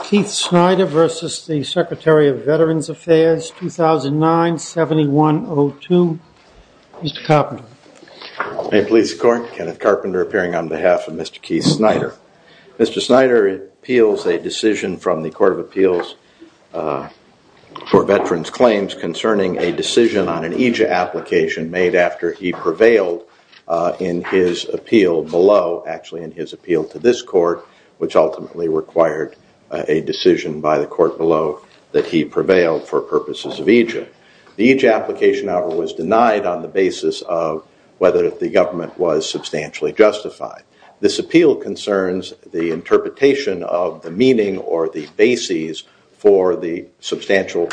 Keith Snyder versus the Secretary of Veterans Affairs 2009 7102. Mr. Carpenter. May it please the court, Kenneth Carpenter appearing on behalf of Mr. Keith Snyder. Mr. Snyder appeals a decision from the Court of Appeals for Veterans Claims concerning a decision on an EJA application made after he prevailed in his appeal below, actually in his appeal to this decision by the court below that he prevailed for purposes of EJA. The EJA application however was denied on the basis of whether the government was substantially justified. This appeal concerns the interpretation of the meaning or the bases for the substantial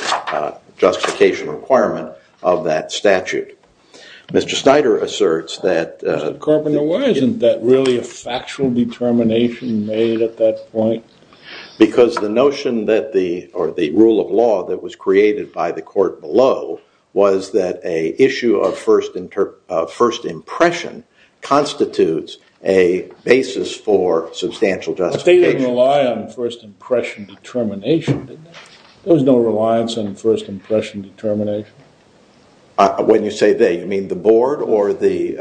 justification requirement of that statute. Mr. Snyder asserts that- Mr. Carpenter, why isn't that really a factual determination made at that point? Because the notion that the or the rule of law that was created by the court below was that a issue of first impression constitutes a basis for substantial justification. They didn't rely on first impression determination, did they? There was no reliance on first impression determination? When you say they, you mean the board or the-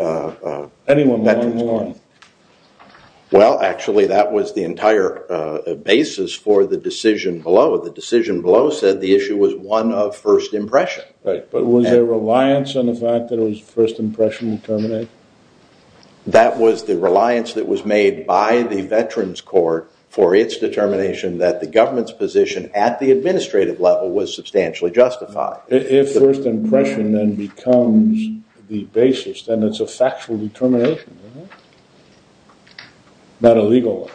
Anyone among them. Well, actually that was the entire basis for the decision below. The decision below said the issue was one of first impression. Right, but was there reliance on the fact that it was first impression determination? That was the reliance that was made by the Veterans Court for its determination that the government's position at the administrative level was substantially justified. If first impression determination becomes a legal one.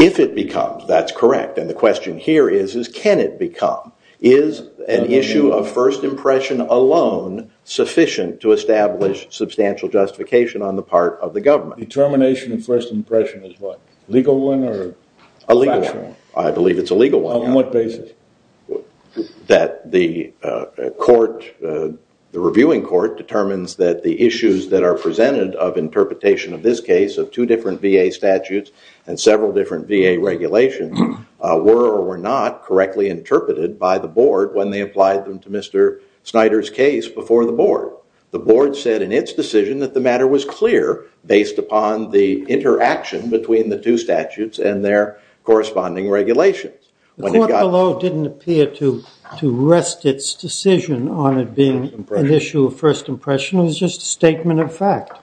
If it becomes, that's correct. And the question here is, is can it become? Is an issue of first impression alone sufficient to establish substantial justification on the part of the government? Determination of first impression is what? Legal one or factual one? A legal one. I believe it's a legal one. On what basis? That the court, the reviewing court determines that the issues that are presented of interpretation of this case of two different VA statutes and several different VA regulations were or were not correctly interpreted by the board when they applied them to Mr. Snyder's case before the board. The board said in its decision that the matter was clear based upon the interaction between the two statutes and their corresponding regulations. The court below didn't appear to rest its decision on it being an issue of first impression. It was just a statement of fact.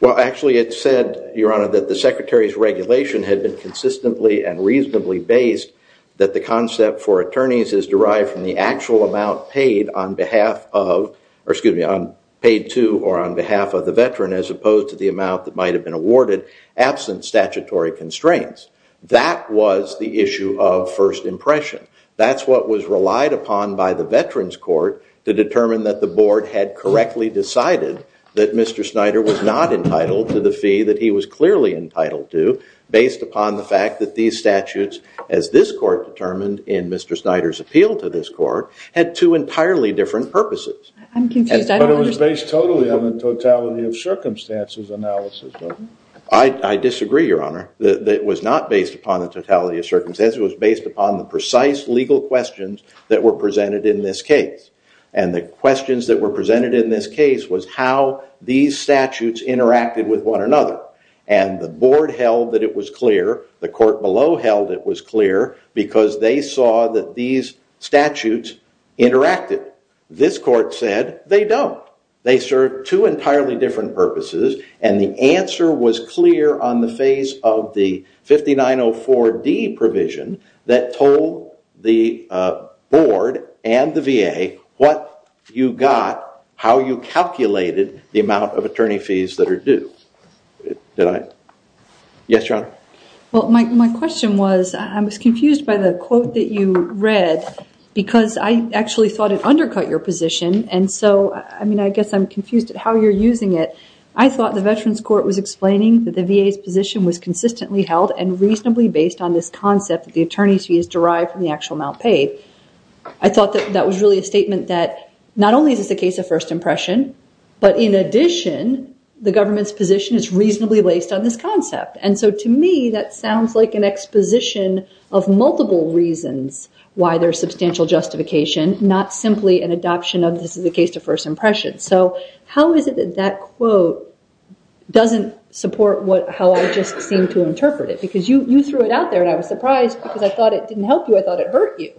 Well, actually it said, your honor, that the secretary's regulation had been consistently and reasonably based that the concept for attorneys is derived from the actual amount paid on behalf of, or excuse me, paid to or on behalf of the veteran as opposed to the amount that might have been awarded absent statutory constraints. That was the issue of first impression. That's what was relied upon by the veterans court to determine that the board had correctly decided that Mr. Snyder was not entitled to the fee that he was clearly entitled to based upon the fact that these statutes, as this court determined in Mr. Snyder's appeal to this court, had two entirely different purposes. I'm confused. I don't understand. But it was based totally on the totality of circumstances analysis. I disagree, your honor. It was not based upon the totality of circumstances. It was based upon the precise legal questions that were presented in this case. And the questions that were presented in this case was how these statutes interacted with one another. And the board held that it was clear. The court below held it was clear because they saw that these statutes interacted. This court said they don't. They serve two entirely different purposes. And the answer was clear on the face of the 5904D provision that told the board and the VA what you got, how you calculated the amount of attorney fees that are due. Did I? Yes, your honor. Well, my question was I was confused by the quote that you read because I actually thought undercut your position. And so, I mean, I guess I'm confused at how you're using it. I thought the Veterans Court was explaining that the VA's position was consistently held and reasonably based on this concept that the attorney's fee is derived from the actual amount paid. I thought that that was really a statement that not only is this a case of first impression, but in addition, the government's position is reasonably based on this concept. And so to me, that sounds like an exposition of multiple reasons why there's substantial justification, not simply an adoption of this is a case to first impression. So how is it that that quote doesn't support how I just seem to interpret it? Because you threw it out there and I was surprised because I thought it didn't help you. I thought it hurt you.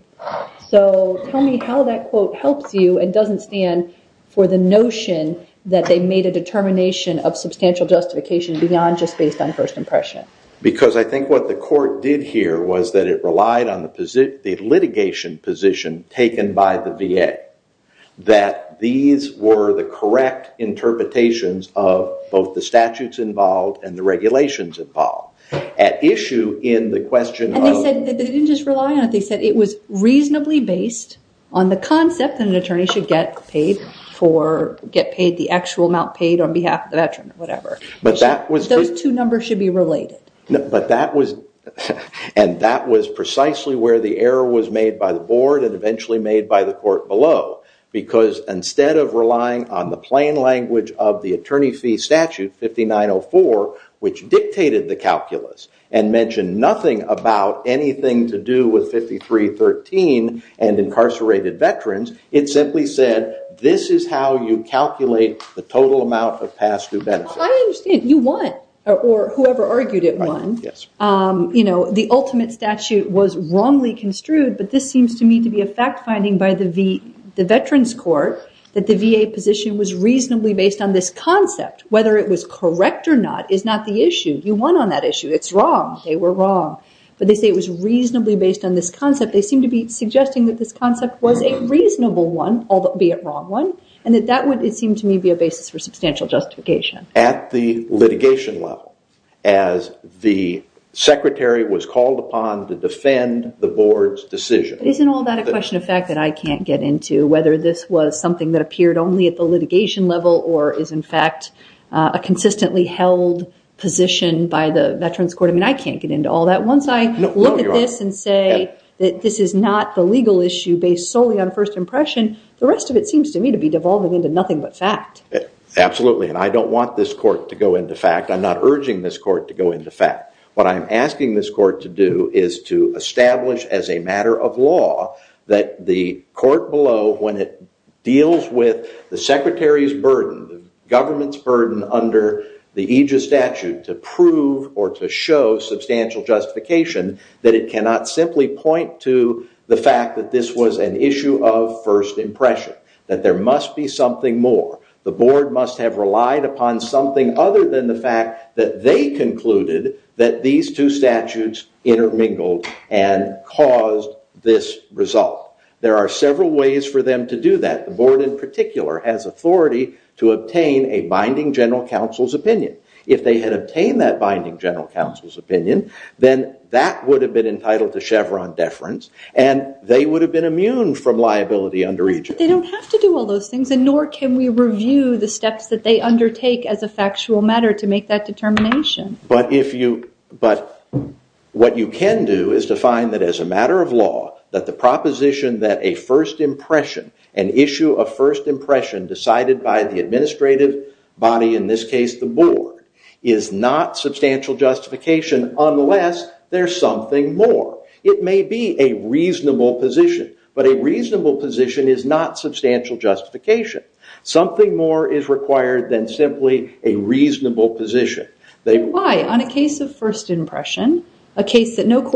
So tell me how that quote helps you and doesn't stand for the notion that they made a determination of substantial justification beyond just based on first impression? Because I think what the court did here was that it relied on the litigation position taken by the VA, that these were the correct interpretations of both the statutes involved and the regulations involved. At issue in the question of- And they didn't just rely on it, they said it was reasonably based on the concept that an attorney should get paid for, get paid the actual amount paid on behalf of the should be related. But that was- And that was precisely where the error was made by the board and eventually made by the court below. Because instead of relying on the plain language of the attorney fee statute 5904, which dictated the calculus and mentioned nothing about anything to do with 5313 and incarcerated veterans, it simply said, this is how you calculate the total amount of past due benefit. I understand. You won, or whoever argued it won. The ultimate statute was wrongly construed, but this seems to me to be a fact finding by the veterans court that the VA position was reasonably based on this concept. Whether it was correct or not is not the issue. You won on that issue. It's wrong. They were wrong. But they say it was reasonably based on this concept. They seem to be suggesting that this concept was a reasonable one, albeit wrong and that that would, it seemed to me, be a basis for substantial justification. At the litigation level, as the secretary was called upon to defend the board's decision. Isn't all that a question of fact that I can't get into, whether this was something that appeared only at the litigation level or is in fact a consistently held position by the veterans court? I mean, I can't get into all that. Once I look at this and say that this is not the legal issue based solely on first impression, the rest of it seems to me to be devolving into nothing but fact. Absolutely. And I don't want this court to go into fact. I'm not urging this court to go into fact. What I'm asking this court to do is to establish as a matter of law that the court below, when it deals with the secretary's burden, the government's burden under the aegis statute, to prove or to show substantial justification that it cannot simply point to the fact that this was an issue of first impression. That there must be something more. The board must have relied upon something other than the fact that they concluded that these two statutes intermingled and caused this result. There are several ways for them to do that. The board, in particular, has authority to obtain a binding general counsel's opinion. If they had obtained that binding general counsel's opinion, then that would have been entitled to Chevron deference, and they would have been immune from liability under aegis. They don't have to do all those things, and nor can we review the steps that they undertake as a factual matter to make that determination. But what you can do is to find that as a matter of law, that the proposition that a first impression, an issue of first impression decided by the administrative body, in this case, the board, is not substantial justification unless there's something more. It may be a reasonable position, but a reasonable position is not substantial justification. Something more is required than simply a reasonable position. Why? On a case of first impression, a case that no ought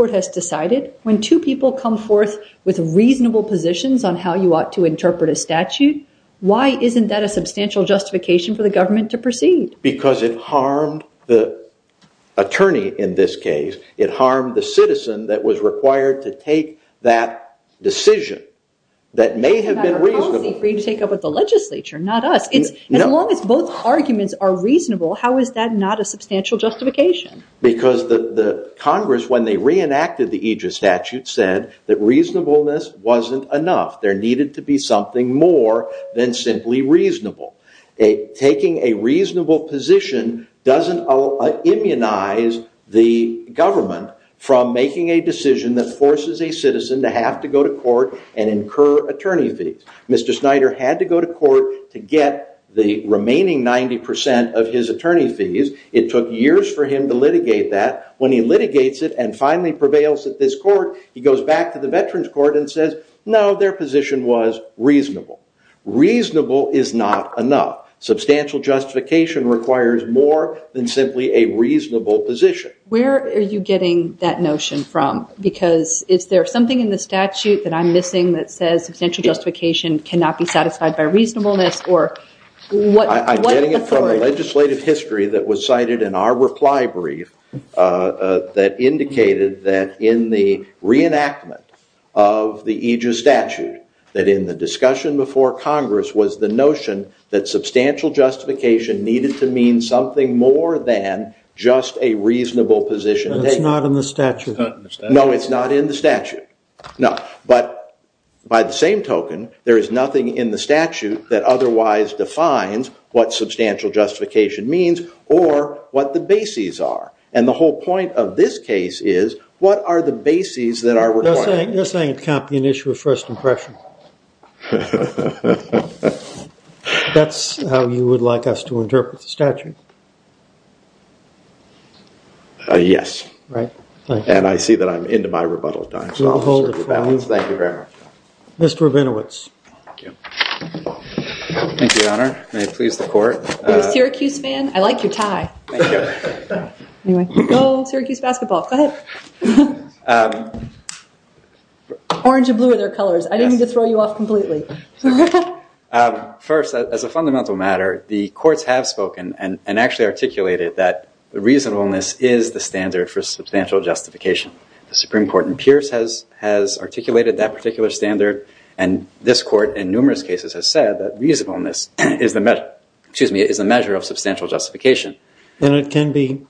to interpret a statute, why isn't that a substantial justification for the government to proceed? Because it harmed the attorney in this case. It harmed the citizen that was required to take that decision that may have been reasonable. It's a matter of policy for you to take up with the legislature, not us. As long as both arguments are reasonable, how is that not a substantial justification? Because the Congress, when they reenacted the aegis statute, said that reasonableness wasn't enough. There needed to be something more than simply reasonable. Taking a reasonable position doesn't immunize the government from making a decision that forces a citizen to have to go to court and incur attorney fees. Mr. Snyder had to go to court to get the remaining 90% of his attorney fees. It took years for him to litigate that. When he litigates it and finally prevails at this court, he goes back to the veterans court and says, no, their position was reasonable. Reasonable is not enough. Substantial justification requires more than simply a reasonable position. Where are you getting that notion from? Because is there something in the statute that I'm missing that says substantial justification cannot be satisfied by reasonableness? I'm getting it from a legislative history that was cited in our reply brief that indicated that in the reenactment of the aegis statute, that in the discussion before Congress was the notion that substantial justification needed to mean something more than just a reasonable position. It's not in the statute. No, it's not in the statute. But by the same token, there is nothing in the statute that otherwise defines what substantial justification is. The whole point of this case is, what are the bases that are required? You're saying it can't be an issue of first impression. That's how you would like us to interpret the statute? Yes. And I see that I'm into my rebuttal time. Mr. Rabinowitz. You're a Syracuse fan? I like your tie. Anyway, go Syracuse basketball. Go ahead. Orange and blue are their colors. I didn't mean to throw you off completely. First, as a fundamental matter, the courts have spoken and actually articulated that the reasonableness is the standard for substantial justification. The Supreme Court in Pierce has articulated that particular standard, and this court in numerous cases has said that reasonableness is the measure of substantial justification. And it can be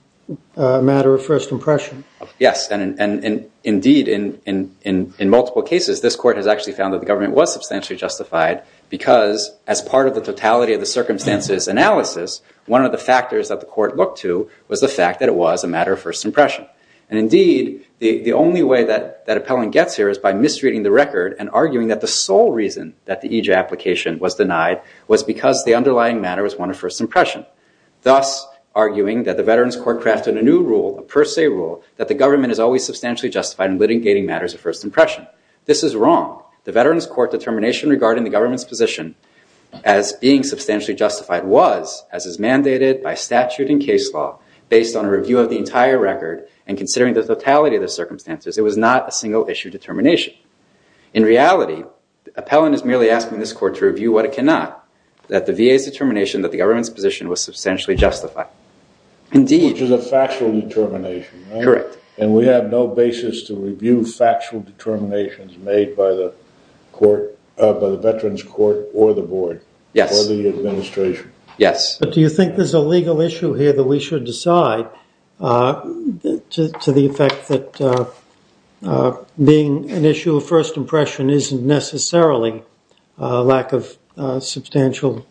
a matter of first impression. Yes. And indeed, in multiple cases, this court has actually found that the government was substantially justified because as part of the totality of the circumstances analysis, one of the factors that the court looked to was the fact that it was a matter of first impression. And indeed, the only way that appellant gets here is by misreading the record and arguing that the sole reason that the EJ application was denied was because the underlying matter was one of first impression, thus arguing that the Veterans Court crafted a new rule, a per se rule, that the government is always substantially justified in litigating matters of first impression. This is wrong. The Veterans Court determination regarding the government's position as being substantially justified was, as is mandated by statute and case law, based on a review of the entire record and considering the totality of the circumstances, it was not a single issue determination. In reality, appellant is merely asking this court to review what it cannot, that the VA's determination that the government's position was substantially justified. Indeed. Which is a factual determination. Correct. And we have no basis to review factual determinations made by the Veterans Court or the board. Yes. Or the administration. Yes. But do you think there's a legal issue here that we should decide on to the effect that being an issue of first impression isn't necessarily a lack of substantial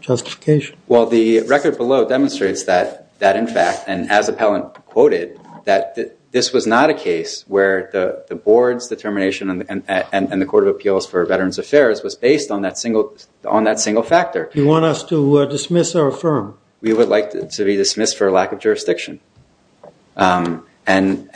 justification? Well, the record below demonstrates that, in fact, and as appellant quoted, that this was not a case where the board's determination and the Court of Appeals for Veterans Affairs was based on that single factor. You want us to dismiss or affirm? We would like to be dismissed for a lack of jurisdiction. And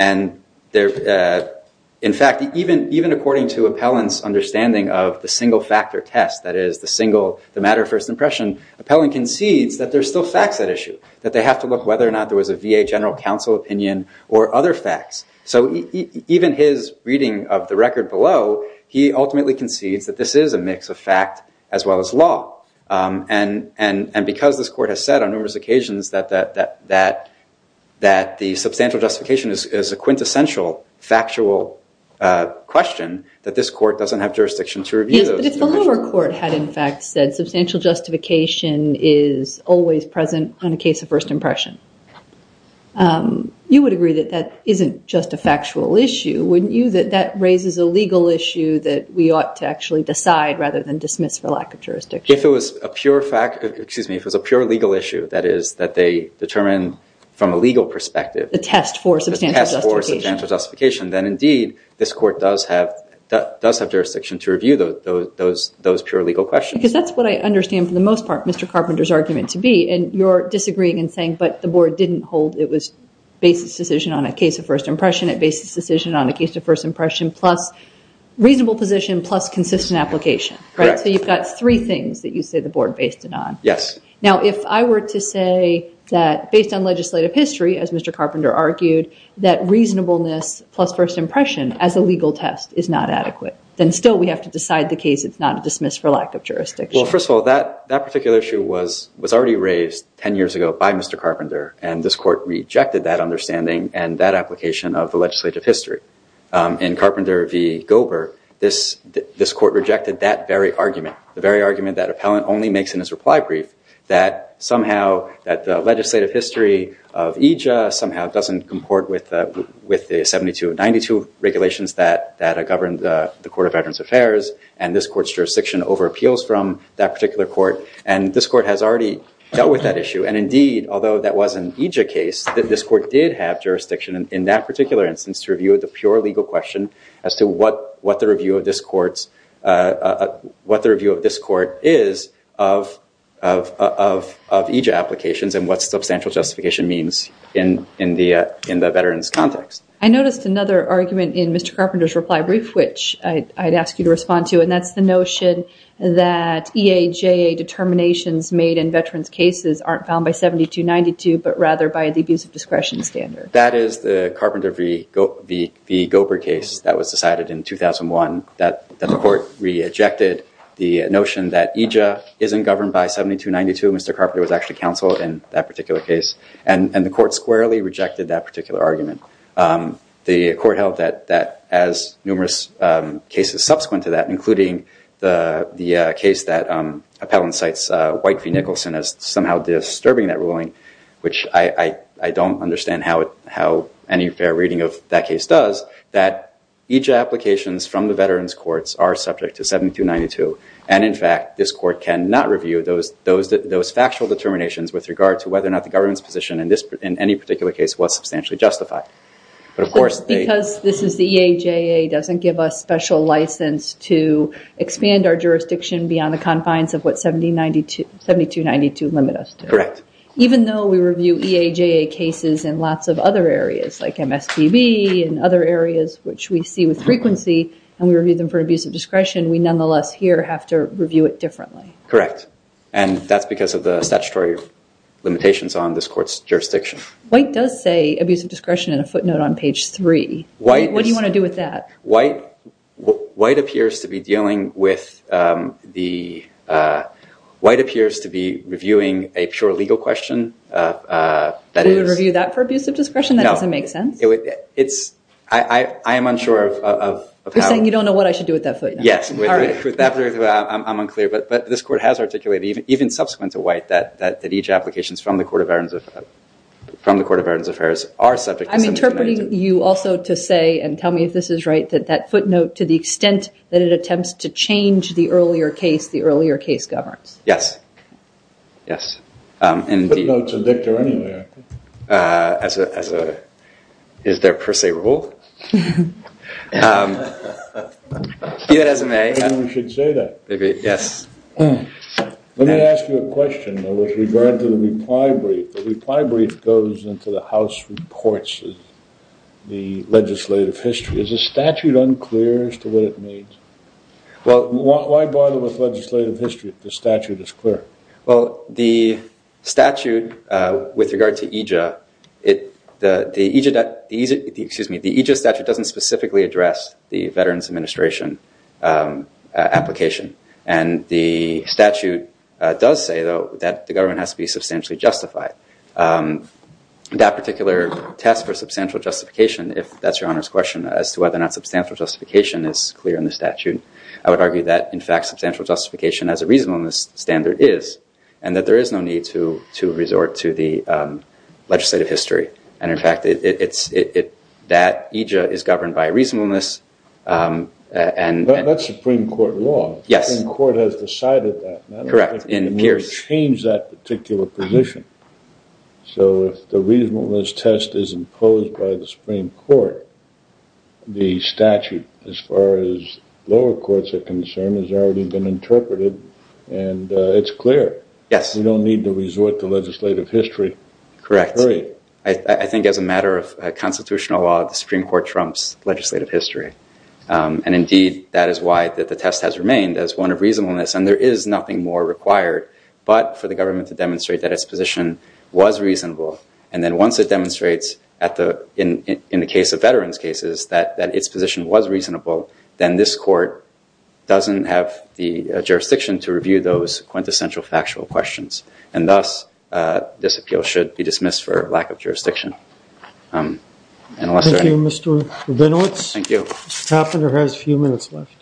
in fact, even according to appellant's understanding of the single factor test, that is the single, the matter of first impression, appellant concedes that there's still facts at issue, that they have to look whether or not there was a VA general counsel opinion or other facts. So even his reading of the record below, he ultimately concedes that this is a mix of fact as well as law. And because this court has said on numerous occasions that the substantial justification is a quintessential factual question, that this court doesn't have jurisdiction to review those. But if the lower court had, in fact, said substantial justification is always present on a case of first impression, you would agree that that isn't just a factual issue, wouldn't you? That raises a legal issue that we ought to actually decide rather than dismiss for lack of jurisdiction. If it was a pure fact, excuse me, if it was a pure legal issue, that is that they determine from a legal perspective. The test for substantial justification. Then indeed, this court does have jurisdiction to review those pure legal questions. Because that's what I understand for the most part Mr. Carpenter's argument to be. And you're disagreeing and saying, but the board didn't hold it was basis decision on a case of first impression. It basis decision on a case of first impression plus reasonable position plus consistent application, right? So you've got three things that you say the board based it on. Yes. Now, if I were to say that based on legislative history, as Mr. Carpenter argued, that reasonableness plus first impression as a legal test is not adequate, then still we have to decide the case. It's not a dismiss for lack of jurisdiction. Well, first of all, that particular issue was already raised 10 years ago by Mr. Carpenter. And this court rejected that understanding and that application of the legislative history. In Carpenter v. Gober, this court rejected that very argument. The very argument that appellant only makes in his reply brief, that somehow that the legislative history of EJIA somehow doesn't comport with the 7292 regulations that govern the Court of Veterans Affairs. And this court's jurisdiction over appeals from that particular court. And this court has already dealt with that issue. And indeed, although that was an EJIA case, that this court did have jurisdiction in that particular instance to review the pure legal question as to what the review of this court is of EJIA applications and what substantial justification means in the veterans context. I noticed another argument in Mr. Carpenter's reply brief, which I'd ask you to respond to. That's the notion that EJIA determinations made in veterans cases aren't found by 7292, but rather by the abuse of discretion standard. That is the Carpenter v. Gober case that was decided in 2001 that the court re-ejected the notion that EJIA isn't governed by 7292. Mr. Carpenter was actually counsel in that particular case. And the court squarely rejected that particular argument. The court held that as numerous cases subsequent to that, including the case that appellant cites White v. Nicholson as somehow disturbing that ruling, which I don't understand how any fair reading of that case does, that EJIA applications from the veterans courts are subject to 7292. And in fact, this court cannot review those factual determinations with regard to whether or not the government's position in any particular case was substantially justified. But of course, they- Because this is the EJIA doesn't give us special license to expand our jurisdiction beyond the confines of what 7292 limit us to. Correct. Even though we review EJIA cases in lots of other areas, like MSPB and other areas, which we see with frequency, and we review them for abuse of discretion, we nonetheless here have to review it differently. Correct. And that's because of the statutory limitations on this court's jurisdiction. White does say abuse of discretion in a footnote on page three. White is- What do you want to do with that? White appears to be dealing with the- White appears to be reviewing a pure legal question that is- You would review that for abuse of discretion? No. That doesn't make sense? It's- I am unsure of how- You're saying you don't know what I should do with that footnote? Yes. All right. I'm unclear. But this court has articulated, even subsequent to White, that EJIA applications from the Court of Veterans Affairs are subject to- I'm interpreting you also to say, and tell me if this is right, that that footnote, to the extent that it attempts to change the earlier case, the earlier case governs. Yes. Yes. Footnotes are dictatorial anyway, I think. As a- is there per se rule? I think we should say that. Maybe. Yes. Let me ask you a question, though, with regard to the reply brief. The reply brief goes into the House reports of the legislative history. Is the statute unclear as to what it means? Why bother with legislative history if the statute is clear? Well, the statute, with regard to EJIA, the EJIA statute doesn't specifically address the Veterans Administration application. And the statute does say, though, that the government has to be substantially justified. That particular test for substantial justification, if that's your Honor's question, as to whether or not substantial justification is clear in the statute, I would argue that, in fact, substantial justification as a reasonableness standard is. And that there is no need to resort to the legislative history. And, in fact, it's- that EJIA is governed by reasonableness. And- That's Supreme Court law. Yes. The Supreme Court has decided that. Correct. And it appears- It would change that particular position. So if the reasonableness test is imposed by the Supreme Court, the statute, as far as courts are concerned, has already been interpreted. And it's clear. Yes. You don't need to resort to legislative history. Correct. I think, as a matter of constitutional law, the Supreme Court trumps legislative history. And, indeed, that is why the test has remained as one of reasonableness. And there is nothing more required but for the government to demonstrate that its position was reasonable. And then once it demonstrates, in the case of veterans' cases, that its position was reasonable, then this court doesn't have the jurisdiction to review those quintessential factual questions. And, thus, this appeal should be dismissed for lack of jurisdiction. Unless there are any- Thank you, Mr. Reynolds. Thank you. Mr. Taffender has a few minutes left.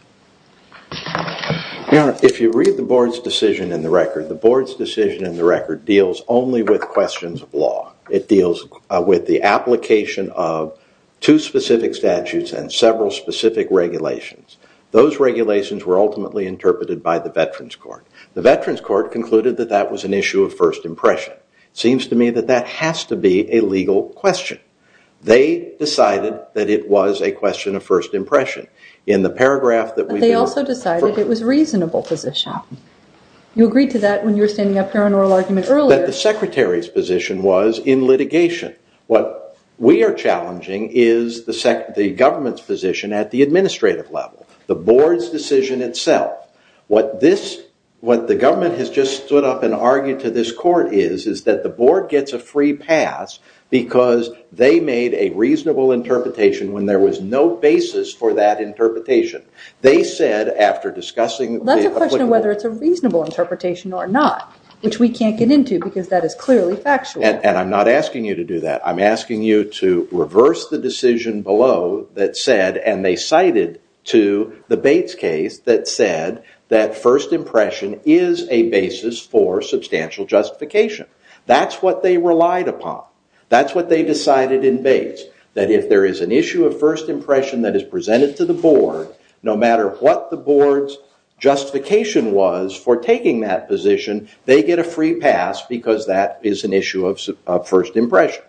Your Honor, if you read the board's decision in the record, the board's decision in the record deals only with questions of law. It deals with the application of two specific statutes and several specific regulations. Those regulations were ultimately interpreted by the Veterans Court. The Veterans Court concluded that that was an issue of first impression. It seems to me that that has to be a legal question. They decided that it was a question of first impression. In the paragraph that we- They also decided it was a reasonable position. You agreed to that when you were standing up here on oral argument earlier. The Secretary's position was in litigation. What we are challenging is the government's position at the administrative level, the board's decision itself. What the government has just stood up and argued to this court is, is that the board gets a free pass because they made a reasonable interpretation when there was no basis for that interpretation. They said, after discussing- That's a question of whether it's a reasonable interpretation or not, which we can't get into because that is clearly factual. I'm not asking you to do that. I'm asking you to reverse the decision below that said, and they cited to the Bates case that said, that first impression is a basis for substantial justification. That's what they relied upon. That's what they decided in Bates, that if there is an issue of first impression that is presented to the board, no matter what the board's justification was for taking that position, they get a free pass because that is an issue of first impression.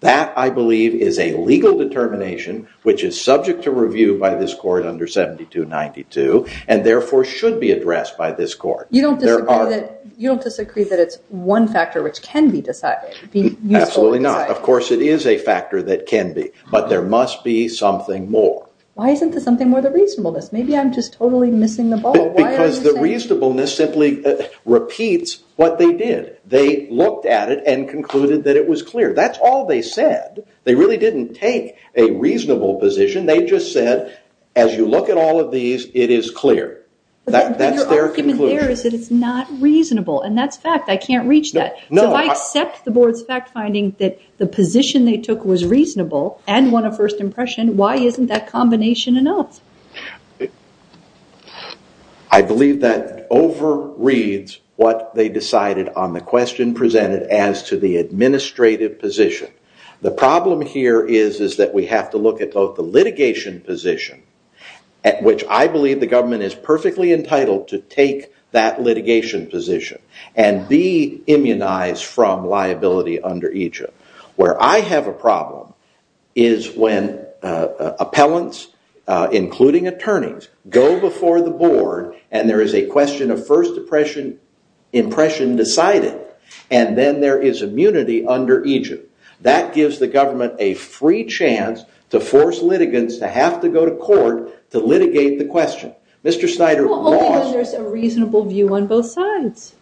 That, I believe, is a legal determination, which is subject to review by this court under 7292, and therefore should be addressed by this court. You don't disagree that it's one factor which can be decided? Absolutely not. Of course, it is a factor that can be, but there must be something more. Why isn't there something more than reasonableness? Maybe I'm just totally missing the ball. Because the reasonableness simply repeats what they did. They looked at it and concluded that it was clear. That's all they said. They really didn't take a reasonable position. They just said, as you look at all of these, it is clear. That's their conclusion. It's not reasonable, and that's fact. I can't reach that. If I accept the board's fact finding that the position they took was reasonable and one of first impression, why isn't that combination enough? I believe that overreads what they decided on the question presented as to the administrative position. The problem here is that we have to look at both the litigation position, at which I believe the government is perfectly entitled to take that litigation position and be immunized from liability under Egypt. Where I have a problem is when appellants, including attorneys, go before the board, and there is a question of first impression decided, and then there is immunity under Egypt. That gives the government a free chance to force litigants to have to go to court to litigate the question. Mr. Snyder lost- Only when there's a reasonable view on both sides.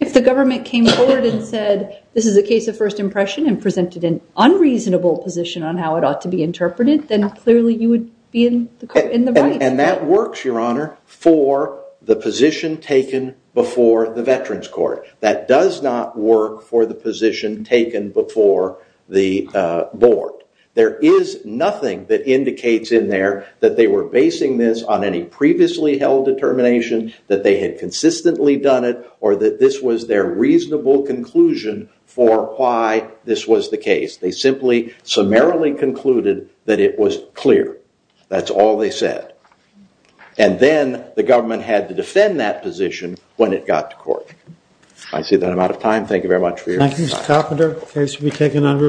If the government came forward and said, this is a case of first impression and presented an unreasonable position on how it ought to be interpreted, then clearly you would be in the right. And that works, Your Honor, for the position taken before the Veterans Court. That does not work for the position taken before the board. There is nothing that indicates in there that they were basing this on any previously held determination, that they had consistently done it, or that this was their reasonable conclusion for why this was the case. They simply summarily concluded that it was clear. That's all they said. And then the government had to defend that position when it got to court. I see that I'm out of time. Thank you very much for your time. Thank you, Mr. Carpenter. The case will be taken under advisement.